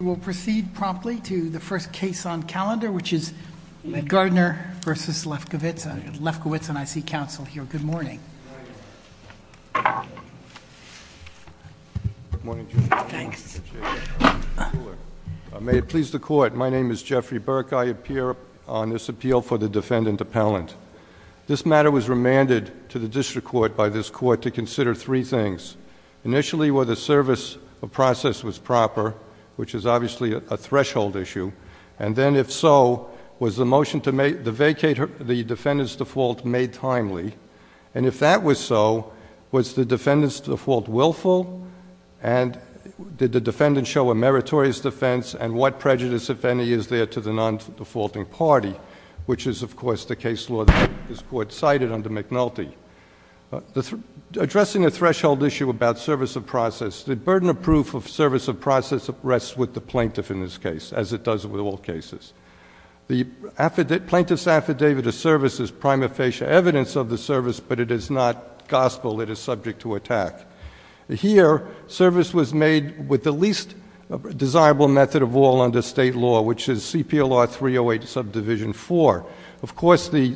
We will proceed promptly to the first case on calendar, which is Gardner v. Lefkowitz. Lefkowitz, and I see counsel here. Good morning. Good morning. May it please the court, my name is Jeffrey Burke. I appear on this appeal for the defendant appellant. This matter was remanded to the district court by this court to consider three things. Initially, were the service of process was proper, which is obviously a threshold issue, and then if so, was the motion to vacate the defendant's default made timely, and if that was so, was the defendant's default willful, and did the defendant show a meritorious defense, and what prejudice, if any, is there to the non-defaulting party, which is, of course, the case law that this court cited under McNulty. Addressing the threshold issue about service of process, the burden of proof of service of process rests with the plaintiff in this case, as it does with all cases. The plaintiff's affidavit of service is prima facie evidence of the service, but it is not gospel that is subject to attack. Here, service was made with the least desirable method of all under state law, which is CPLR 308 subdivision 4. Of course, the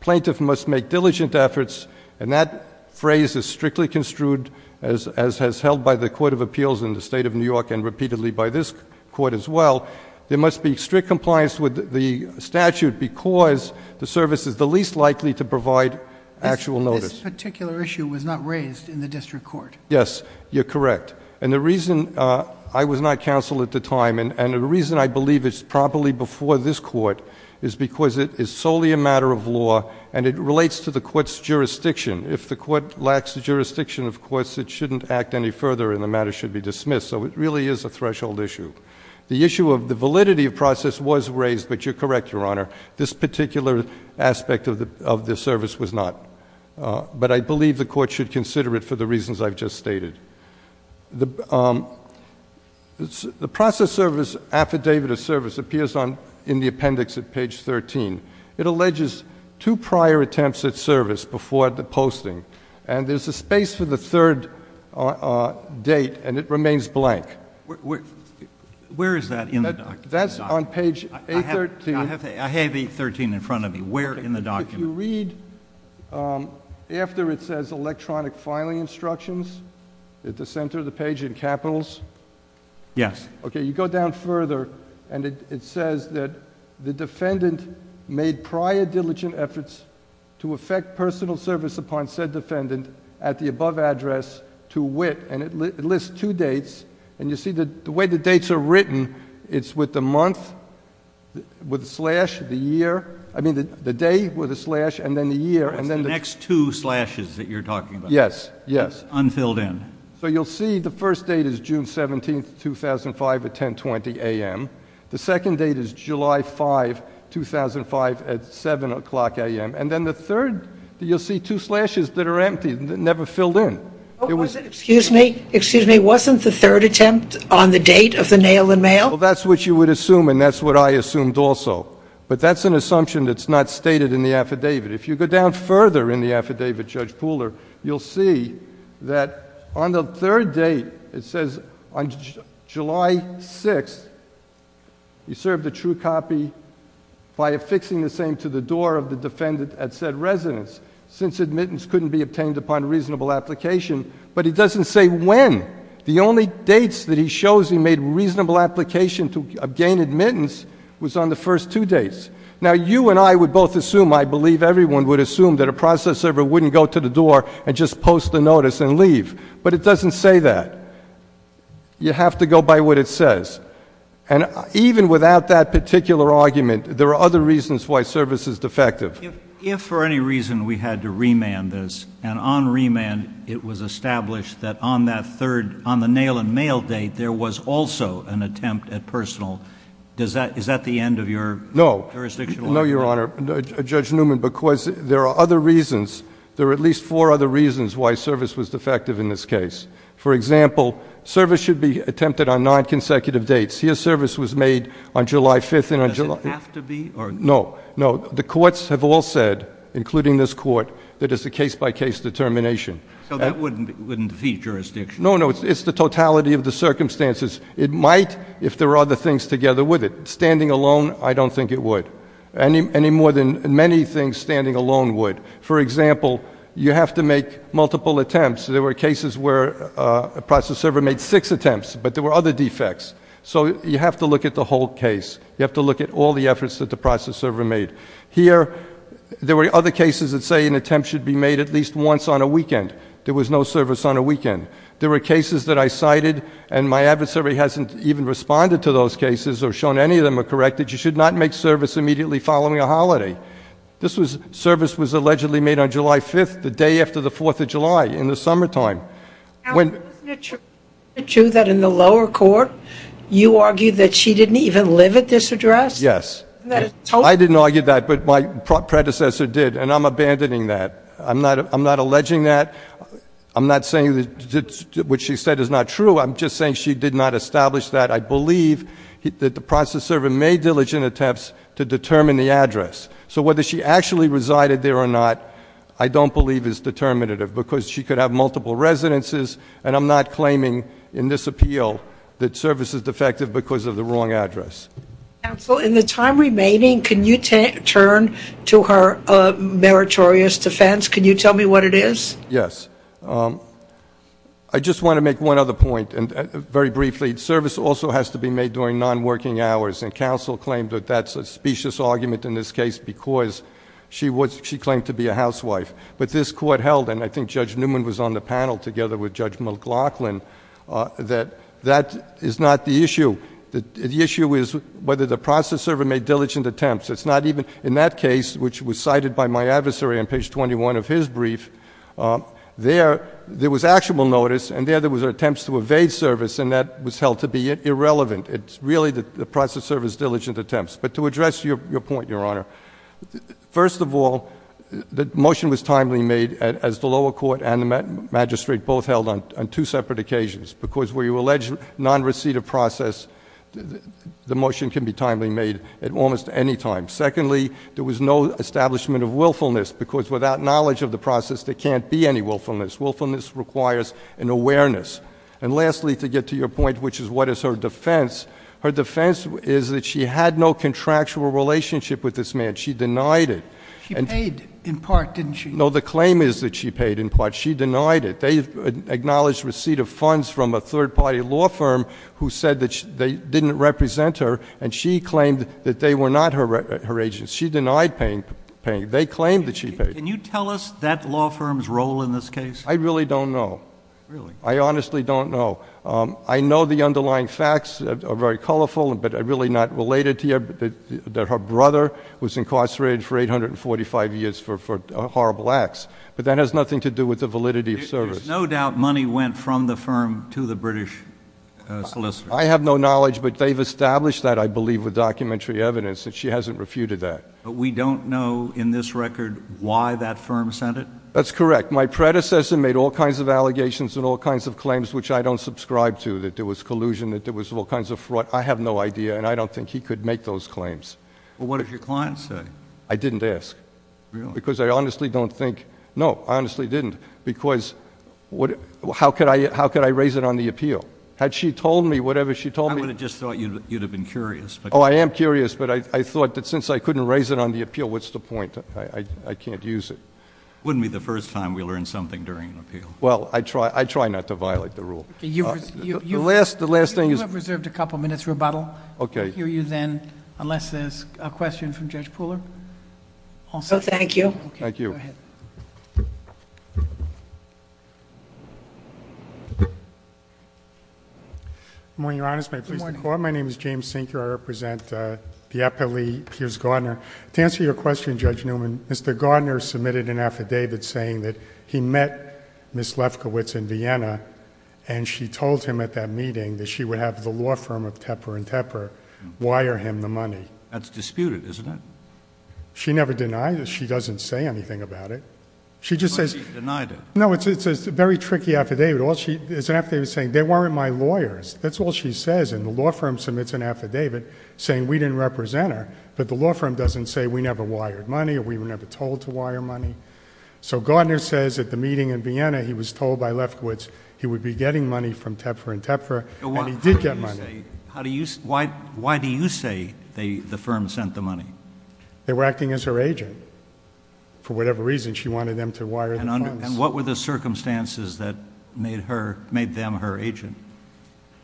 plaintiff must make diligent efforts, and that phrase is strictly construed as has held by the Court of Appeals in the state of New York and repeatedly by this court as well. There must be strict compliance with the statute because the service is the least likely to provide actual notice. This particular issue was not raised in the district court. Yes, you're correct. And the reason I was not counsel at the time and the reason I believe it's probably before this court is because it is solely a matter of law and it relates to the court's jurisdiction. If the court lacks the jurisdiction, of course, it shouldn't act any further and the matter should be dismissed. So it really is a threshold issue. The issue of the validity of process was raised, but you're correct, Your Honor. This particular aspect of the service was not. But I believe the court should consider it for the reasons I've just stated. The process service affidavit of service appears in the appendix at page 13. It alleges two prior attempts at service before the posting, and there's a space for the third date and it remains blank. Where is that in the document? That's on page 813. I have 813 in front of me. Where in the document? Do you read after it says electronic filing instructions at the center of the page in capitals? Yes. Okay. You go down further and it says that the defendant made prior diligent efforts to effect personal service upon said defendant at the above address to wit, and it lists two dates. And you see the way the dates are written, it's with the month, with the slash, the year. I mean, the day with the slash and then the year and then the next two slashes that you're talking about. Yes, yes. Unfilled in. So you'll see the first date is June 17, 2005 at 1020 a.m. The second date is July 5, 2005 at 7 o'clock a.m. And then the third, you'll see two slashes that are empty, never filled in. Excuse me. Excuse me. Wasn't the third attempt on the date of the nail-in-mail? Well, that's what you would assume and that's what I assumed also. But that's an assumption that's not stated in the affidavit. If you go down further in the affidavit, Judge Pooler, you'll see that on the third date it says on July 6, he served a true copy by affixing the same to the door of the defendant at said residence since admittance couldn't be obtained upon reasonable application. But it doesn't say when. The only dates that he shows he made reasonable application to gain admittance was on the first two dates. Now, you and I would both assume, I believe everyone would assume, that a process server wouldn't go to the door and just post a notice and leave. But it doesn't say that. You have to go by what it says. And even without that particular argument, there are other reasons why service is defective. If for any reason we had to remand this, and on remand it was established that on that third, on the nail-in-mail date, there was also an attempt at personal, is that the end of your jurisdictional argument? No, Your Honor. Judge Newman, because there are other reasons, there are at least four other reasons why service was defective in this case. For example, service should be attempted on nine consecutive dates. Here service was made on July 5th and on July 6th. Does it have to be? No. No. The courts have all said, including this court, that it's a case-by-case determination. So that wouldn't defeat jurisdiction? No, no. It's the totality of the circumstances. It might if there are other things together with it. Standing alone, I don't think it would. Any more than many things standing alone would. For example, you have to make multiple attempts. There were cases where a process server made six attempts, but there were other defects. So you have to look at the whole case. You have to look at all the efforts that the process server made. Here, there were other cases that say an attempt should be made at least once on a weekend. There was no service on a weekend. There were cases that I cited, and my adversary hasn't even responded to those cases or shown any of them are correct, that you should not make service immediately following a holiday. Service was allegedly made on July 5th, the day after the 4th of July in the summertime. Isn't it true that in the lower court you argued that she didn't even live at this address? Yes. I didn't argue that, but my predecessor did, and I'm abandoning that. I'm not alleging that. I'm not saying what she said is not true. I'm just saying she did not establish that. I believe that the process server made diligent attempts to determine the address. So whether she actually resided there or not I don't believe is determinative because she could have multiple residences, and I'm not claiming in this appeal that service is defective because of the wrong address. Counsel, in the time remaining, can you turn to her meritorious defense? Can you tell me what it is? Yes. I just want to make one other point very briefly. Service also has to be made during non-working hours, and counsel claimed that that's a specious argument in this case because she claimed to be a housewife. But this court held, and I think Judge Newman was on the panel together with Judge McLaughlin, that that is not the issue. The issue is whether the process server made diligent attempts. It's not even in that case, which was cited by my adversary on page 21 of his brief, there was actual notice and there were attempts to evade service, and that was held to be irrelevant. It's really the process server's diligent attempts. But to address your point, Your Honor, first of all, the motion was timely made as the lower court and the magistrate both held on two separate occasions because where you allege non-receipt of process, the motion can be timely made at almost any time. Secondly, there was no establishment of willfulness because without knowledge of the process, there can't be any willfulness. Willfulness requires an awareness. And lastly, to get to your point, which is what is her defense, her defense is that she had no contractual relationship with this man. She denied it. She paid in part, didn't she? No, the claim is that she paid in part. She denied it. They acknowledged receipt of funds from a third-party law firm who said that they didn't represent her, and she claimed that they were not her agents. She denied paying. They claimed that she paid. Can you tell us that law firm's role in this case? I really don't know. Really? I honestly don't know. I know the underlying facts are very colorful, but really not related to here, that her brother was incarcerated for 845 years for horrible acts, but that has nothing to do with the validity of service. There's no doubt money went from the firm to the British solicitor. I have no knowledge, but they've established that, I believe, with documentary evidence, and she hasn't refuted that. But we don't know in this record why that firm sent it? That's correct. My predecessor made all kinds of allegations and all kinds of claims which I don't subscribe to, that there was collusion, that there was all kinds of fraud. I have no idea, and I don't think he could make those claims. Well, what did your client say? I didn't ask. Really? Because I honestly don't think no, I honestly didn't, because how could I raise it on the appeal? Had she told me whatever she told me? I would have just thought you'd have been curious. Oh, I am curious, but I thought that since I couldn't raise it on the appeal, what's the point? I can't use it. Wouldn't be the first time we learn something during an appeal. Well, I try not to violate the rule. You have reserved a couple minutes' rebuttal. Okay. I'll hear you then, unless there's a question from Judge Pooler. No, thank you. Okay, go ahead. Good morning, Your Honor. Good morning. My name is James Sinker. I represent the appellee, Pierce Gardner. To answer your question, Judge Newman, Mr. Gardner submitted an affidavit saying that he met Ms. Lefkowitz in Vienna, and she told him at that meeting that she would have the law firm of Tepper & Tepper wire him the money. That's disputed, isn't it? She never denied it. She doesn't say anything about it. She just says — But she denied it. No, it's a very tricky affidavit. It's an affidavit saying they weren't my lawyers. That's all she says. And the law firm submits an affidavit saying we didn't represent her, but the law firm doesn't say we never wired money or we were never told to wire money. So Gardner says at the meeting in Vienna he was told by Lefkowitz he would be getting money from Tepper & Tepper, and he did get money. Why do you say the firm sent the money? They were acting as her agent. For whatever reason, she wanted them to wire the funds. And what were the circumstances that made them her agent?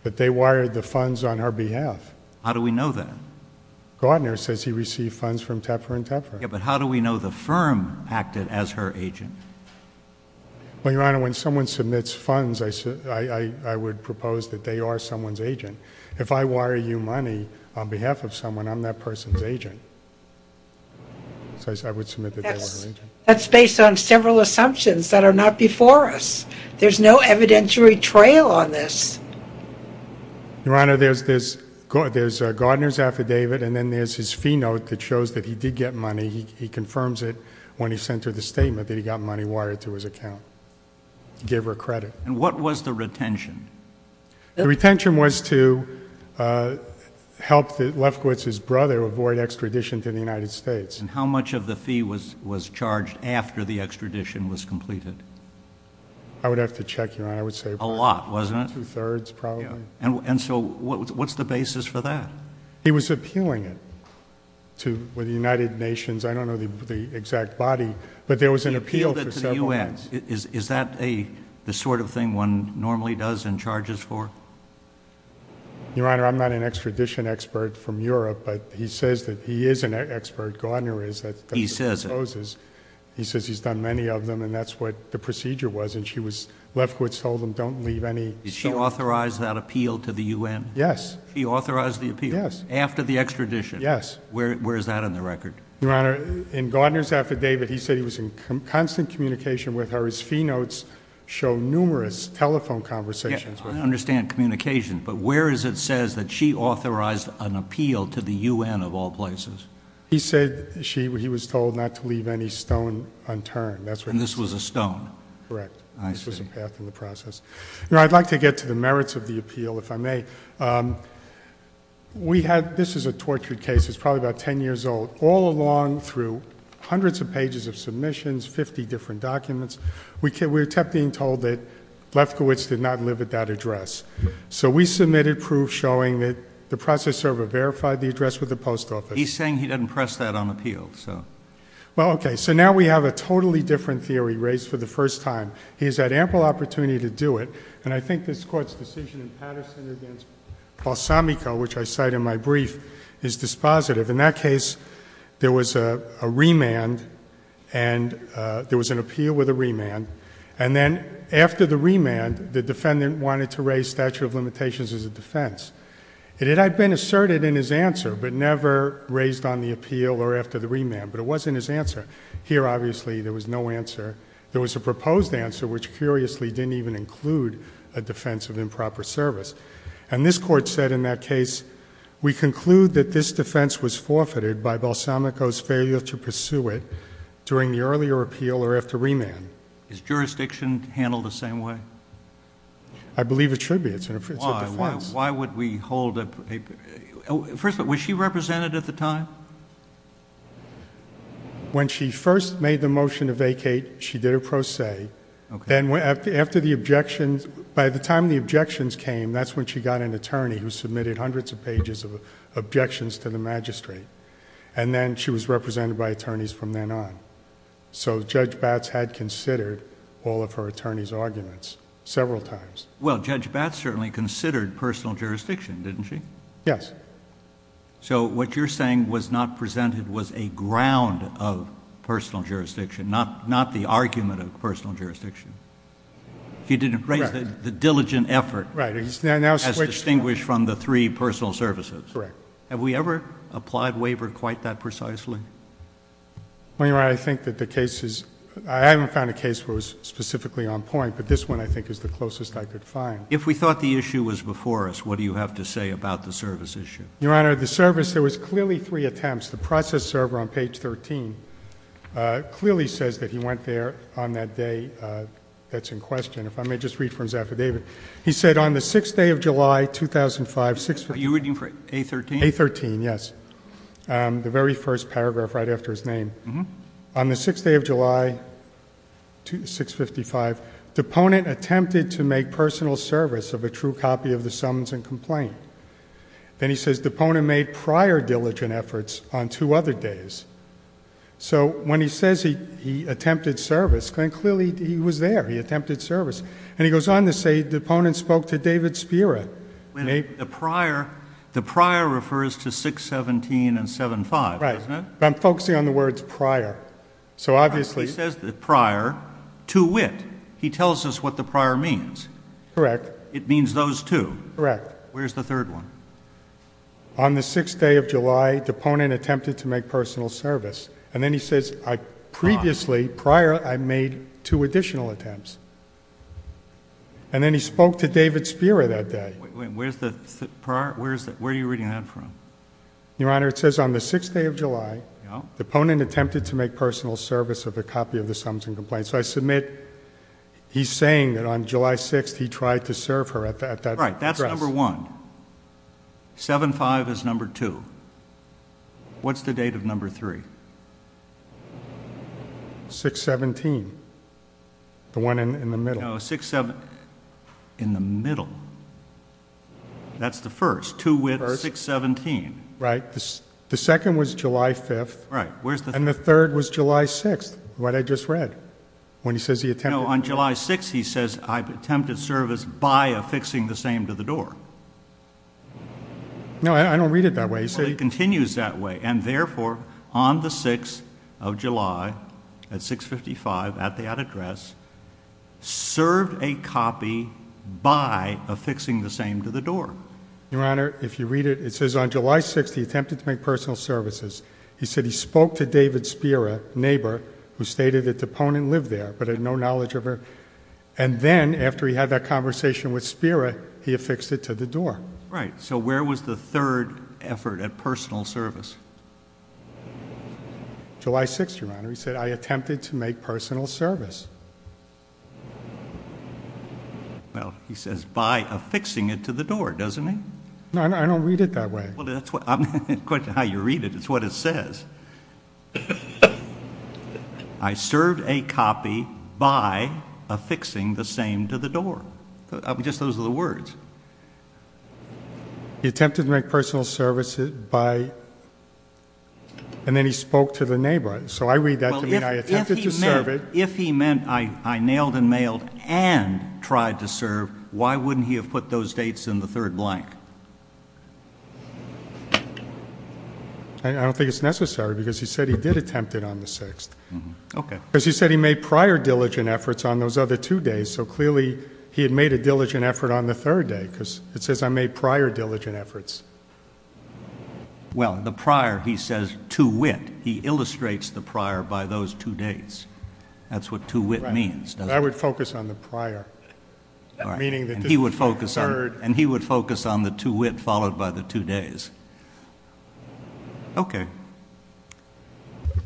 That they wired the funds on her behalf. How do we know that? Gardner says he received funds from Tepper & Tepper. Yeah, but how do we know the firm acted as her agent? Well, Your Honor, when someone submits funds, I would propose that they are someone's agent. If I wire you money on behalf of someone, I'm that person's agent. So I would submit that they were her agent. That's based on several assumptions that are not before us. There's no evidentiary trail on this. Your Honor, there's Gardner's affidavit, and then there's his fee note that shows that he did get money. He confirms it when he sent her the statement that he got money wired to his account to give her credit. And what was the retention? The retention was to help Lefkowitz's brother avoid extradition to the United States. And how much of the fee was charged after the extradition was completed? I would have to check, Your Honor. I would say a lot, wasn't it? Two-thirds, probably. And so what's the basis for that? He was appealing it to the United Nations. I don't know the exact body, but there was an appeal for several months. He appealed it to the U.S. Is that the sort of thing one normally does and charges for? Your Honor, I'm not an extradition expert from Europe, but he says that he is an expert. Gardner is. He says it. He says he's done many of them, and that's what the procedure was. And Lefkowitz told him, don't leave any. Did she authorize that appeal to the U.N.? Yes. She authorized the appeal? Yes. After the extradition? Yes. Where is that in the record? Your Honor, in Gardner's affidavit, he said he was in constant communication with her. His fee notes show numerous telephone conversations with her. I understand communication, but where is it says that she authorized an appeal to the U.N. of all places? He said he was told not to leave any stone unturned. And this was a stone? Correct. I see. This was a path in the process. Your Honor, I'd like to get to the merits of the appeal, if I may. This is a tortured case. It's probably about 10 years old. All along, through hundreds of pages of submissions, 50 different documents, we kept being told that Lefkowitz did not live at that address. So we submitted proof showing that the process server verified the address with the post office. He's saying he didn't press that on appeal. Well, okay. So now we have a totally different theory raised for the first time. He has had ample opportunity to do it, and I think this Court's decision in Patterson against Balsamico, which I cite in my brief, is dispositive. In that case, there was a remand, and there was an appeal with a remand, and then after the remand, the defendant wanted to raise statute of limitations as a defense. It had been asserted in his answer, but never raised on the appeal or after the remand. But it was in his answer. Here, obviously, there was no answer. There was a proposed answer, which curiously didn't even include a defense of improper service. And this Court said in that case, we conclude that this defense was forfeited by Balsamico's failure to pursue it during the earlier appeal or after remand. Is jurisdiction handled the same way? I believe it should be. It's a defense. Why would we hold a... First of all, was she represented at the time? When she first made the motion to vacate, she did a pro se. Then after the objections, by the time the objections came, that's when she got an attorney who submitted hundreds of pages of objections to the magistrate, and then she was represented by attorneys from then on. So Judge Batts had considered all of her attorneys' arguments several times. Well, Judge Batts certainly considered personal jurisdiction, didn't she? Yes. So what you're saying was not presented was a ground of personal jurisdiction, not the argument of personal jurisdiction. Correct. She didn't raise the diligent effort... Right.... as distinguished from the three personal services. Correct. Have we ever applied waiver quite that precisely? Well, Your Honor, I think that the case is... I haven't found a case where it was specifically on point, but this one I think is the closest I could find. If we thought the issue was before us, what do you have to say about the service issue? Your Honor, the service, there was clearly three attempts. The process server on page 13 clearly says that he went there on that day that's in question. If I may just read from his affidavit. He said, on the 6th day of July, 2005... Are you reading from A13? A13, yes. The very first paragraph right after his name. On the 6th day of July, 655, Deponent attempted to make personal service of a true copy of the Summons and Complaint. Then he says, Deponent made prior diligent efforts on two other days. So, when he says he attempted service, then clearly he was there. He attempted service. And he goes on to say, Deponent spoke to David Spira. The prior refers to 617 and 75, doesn't it? I'm focusing on the words prior. So, obviously... He says the prior, to wit. He tells us what the prior means. Correct. It means those two. Correct. Where's the third one? On the 6th day of July, Deponent attempted to make personal service. And then he says, previously, prior, I made two additional attempts. And then he spoke to David Spira that day. Where's the prior? Where are you reading that from? Your Honor, it says on the 6th day of July, Deponent attempted to make personal service of a copy of the Summons and Complaint. So, I submit he's saying that on July 6th, he tried to serve her at that address. Right. That's number one. 75 is number two. What's the date of number three? 617. The one in the middle. No, 67... In the middle. That's the first. The first, to wit, 617. Right. The second was July 5th. Right. Where's the... And the third was July 6th, what I just read. When he says he attempted... No, on July 6th, he says, I've attempted service by affixing the same to the door. No, I don't read it that way. Well, it continues that way. And, therefore, on the 6th of July, at 655, at that address, served a copy by affixing the same to the door. Your Honor, if you read it, it says, on July 6th, he attempted to make personal services. He said he spoke to David Spira, a neighbor, who stated that Teponin lived there, but had no knowledge of her. And then, after he had that conversation with Spira, he affixed it to the door. Right. So, where was the third effort at personal service? July 6th, Your Honor. He said, I attempted to make personal service. Well, he says, by affixing it to the door, doesn't he? No, I don't read it that way. Well, that's what... I'm interested in how you read it. It's what it says. I served a copy by affixing the same to the door. Just those are the words. He attempted to make personal service by... and then he spoke to the neighbor. So, I read that to mean I attempted to serve it. If he meant I nailed and mailed and tried to serve, why wouldn't he have put those dates in the third blank? I don't think it's necessary, because he said he did attempt it on the 6th. Okay. Because he said he made prior diligent efforts on those other two days. So, clearly, he had made a diligent effort on the third day, because it says, I made prior diligent efforts. Well, the prior, he says, to wit. He illustrates the prior by those two days. That's what to wit means, doesn't it? Right. I would focus on the prior. All right. Meaning that this is the third... And he would focus on the to wit followed by the two days. Okay.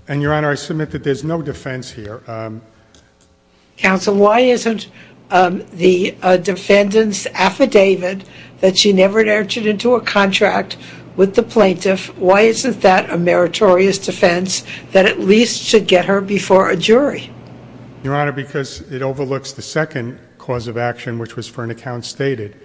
And, Your Honor, I submit that there's no defense here. Counsel, why isn't the defendant's affidavit that she never entered into a contract with the plaintiff, why isn't that a meritorious defense that at least should get her before a jury? Your Honor, because it overlooks the second cause of action, which was for an account stated.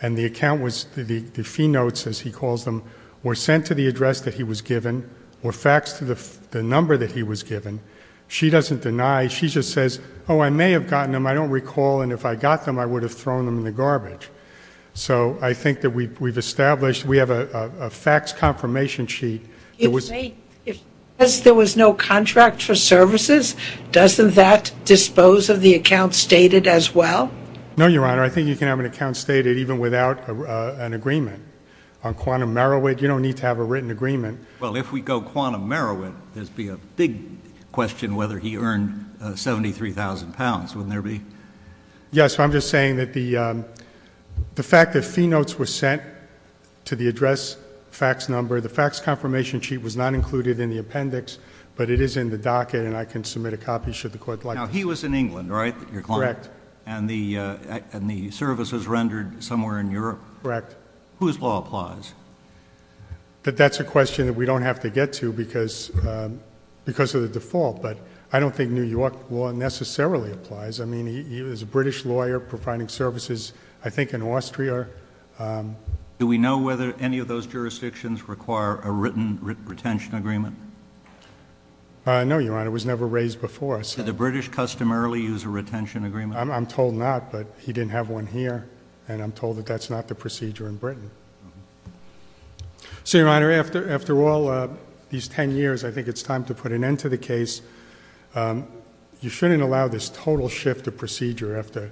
And the account was, the fee notes, as he calls them, were sent to the address that he was given, or faxed to the number that he was given. She doesn't deny. She just says, oh, I may have gotten them. I don't recall. And if I got them, I would have thrown them in the garbage. So I think that we've established we have a fax confirmation sheet. If there was no contract for services, doesn't that dispose of the account stated as well? No, Your Honor. I think you can have an account stated even without an agreement. On quantum merowit, you don't need to have a written agreement. Well, if we go quantum merowit, there would be a big question whether he earned 73,000 pounds. Wouldn't there be? Yes. I'm just saying that the fact that fee notes were sent to the address fax number, the fax confirmation sheet was not included in the appendix, but it is in the docket, and I can submit a copy should the court like. Now, he was in England, right, your client? Correct. And the service was rendered somewhere in Europe? Correct. Whose law applies? That's a question that we don't have to get to because of the default, but I don't think New York law necessarily applies. I mean, he was a British lawyer providing services, I think, in Austria. Do we know whether any of those jurisdictions require a written retention agreement? No, Your Honor. It was never raised before. Did the British customarily use a retention agreement? I'm told not, but he didn't have one here, and I'm told that that's not the procedure in Britain. So, Your Honor, after all these ten years, I think it's time to put an end to the case. You shouldn't allow this total shift of procedure after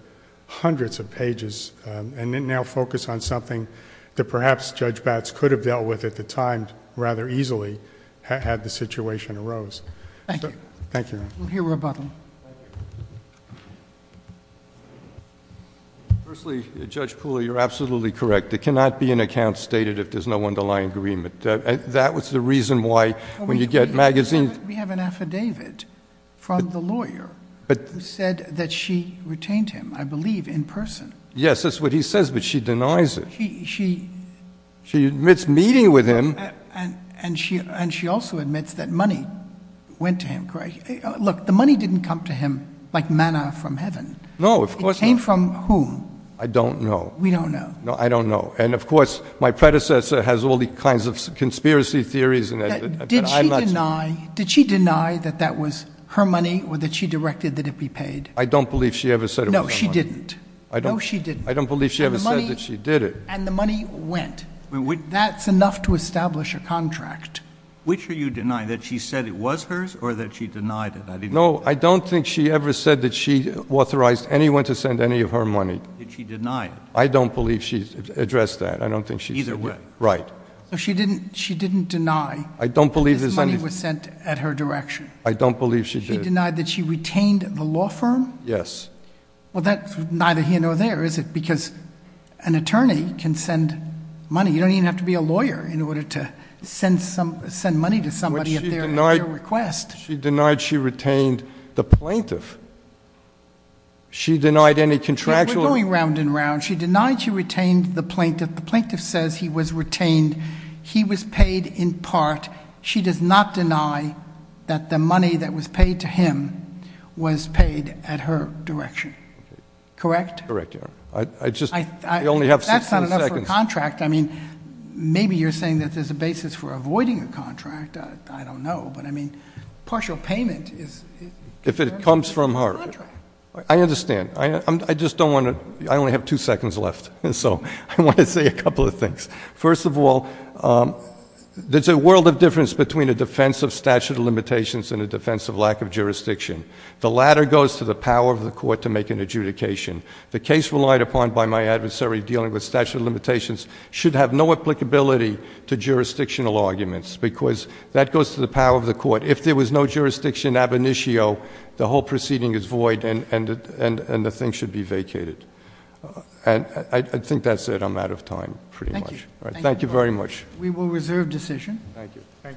hundreds of pages and then now focus on something that perhaps Judge Batts could have dealt with at the time rather easily had the situation arose. Thank you. Thank you, Your Honor. We'll hear rebuttal. Thank you. Firstly, Judge Poole, you're absolutely correct. There cannot be an account stated if there's no underlying agreement. That was the reason why when you get magazines. We have an affidavit from the lawyer who said that she retained him, I believe, in person. Yes, that's what he says, but she denies it. She admits meeting with him. And she also admits that money went to him, correct? Look, the money didn't come to him like manna from heaven. No, of course not. It came from whom? I don't know. We don't know. No, I don't know. And, of course, my predecessor has all the kinds of conspiracy theories. Did she deny that that was her money or that she directed that it be paid? I don't believe she ever said it was her money. No, she didn't. No, she didn't. I don't believe she ever said that she did it. And the money went. That's enough to establish a contract. Which are you denying, that she said it was hers or that she denied it? No, I don't think she ever said that she authorized anyone to send any of her money. Did she deny it? I don't believe she addressed that. Either way. Right. So she didn't deny that this money was sent at her direction? I don't believe she did. She denied that she retained the law firm? Yes. Well, that's neither here nor there, is it? Because an attorney can send money. You don't even have to be a lawyer in order to send money to somebody at their request. But she denied she retained the plaintiff. She denied any contractual. We're going round and round. She denied she retained the plaintiff. The plaintiff says he was retained. He was paid in part. She does not deny that the money that was paid to him was paid at her direction. Correct? Correct, Your Honor. I just, we only have 16 seconds. That's not enough for a contract. I mean, maybe you're saying that there's a basis for avoiding a contract. I don't know. But, I mean, partial payment is— If it comes from her. I understand. I just don't want to—I only have two seconds left. So I want to say a couple of things. First of all, there's a world of difference between a defense of statute of limitations and a defense of lack of jurisdiction. The latter goes to the power of the court to make an adjudication. The case relied upon by my adversary dealing with statute of limitations should have no applicability to jurisdictional arguments because that goes to the power of the court. If there was no jurisdiction ab initio, the whole proceeding is void and the thing should be vacated. And I think that's it. I'm out of time, pretty much. Thank you. Thank you very much. We will reserve decision. Thank you.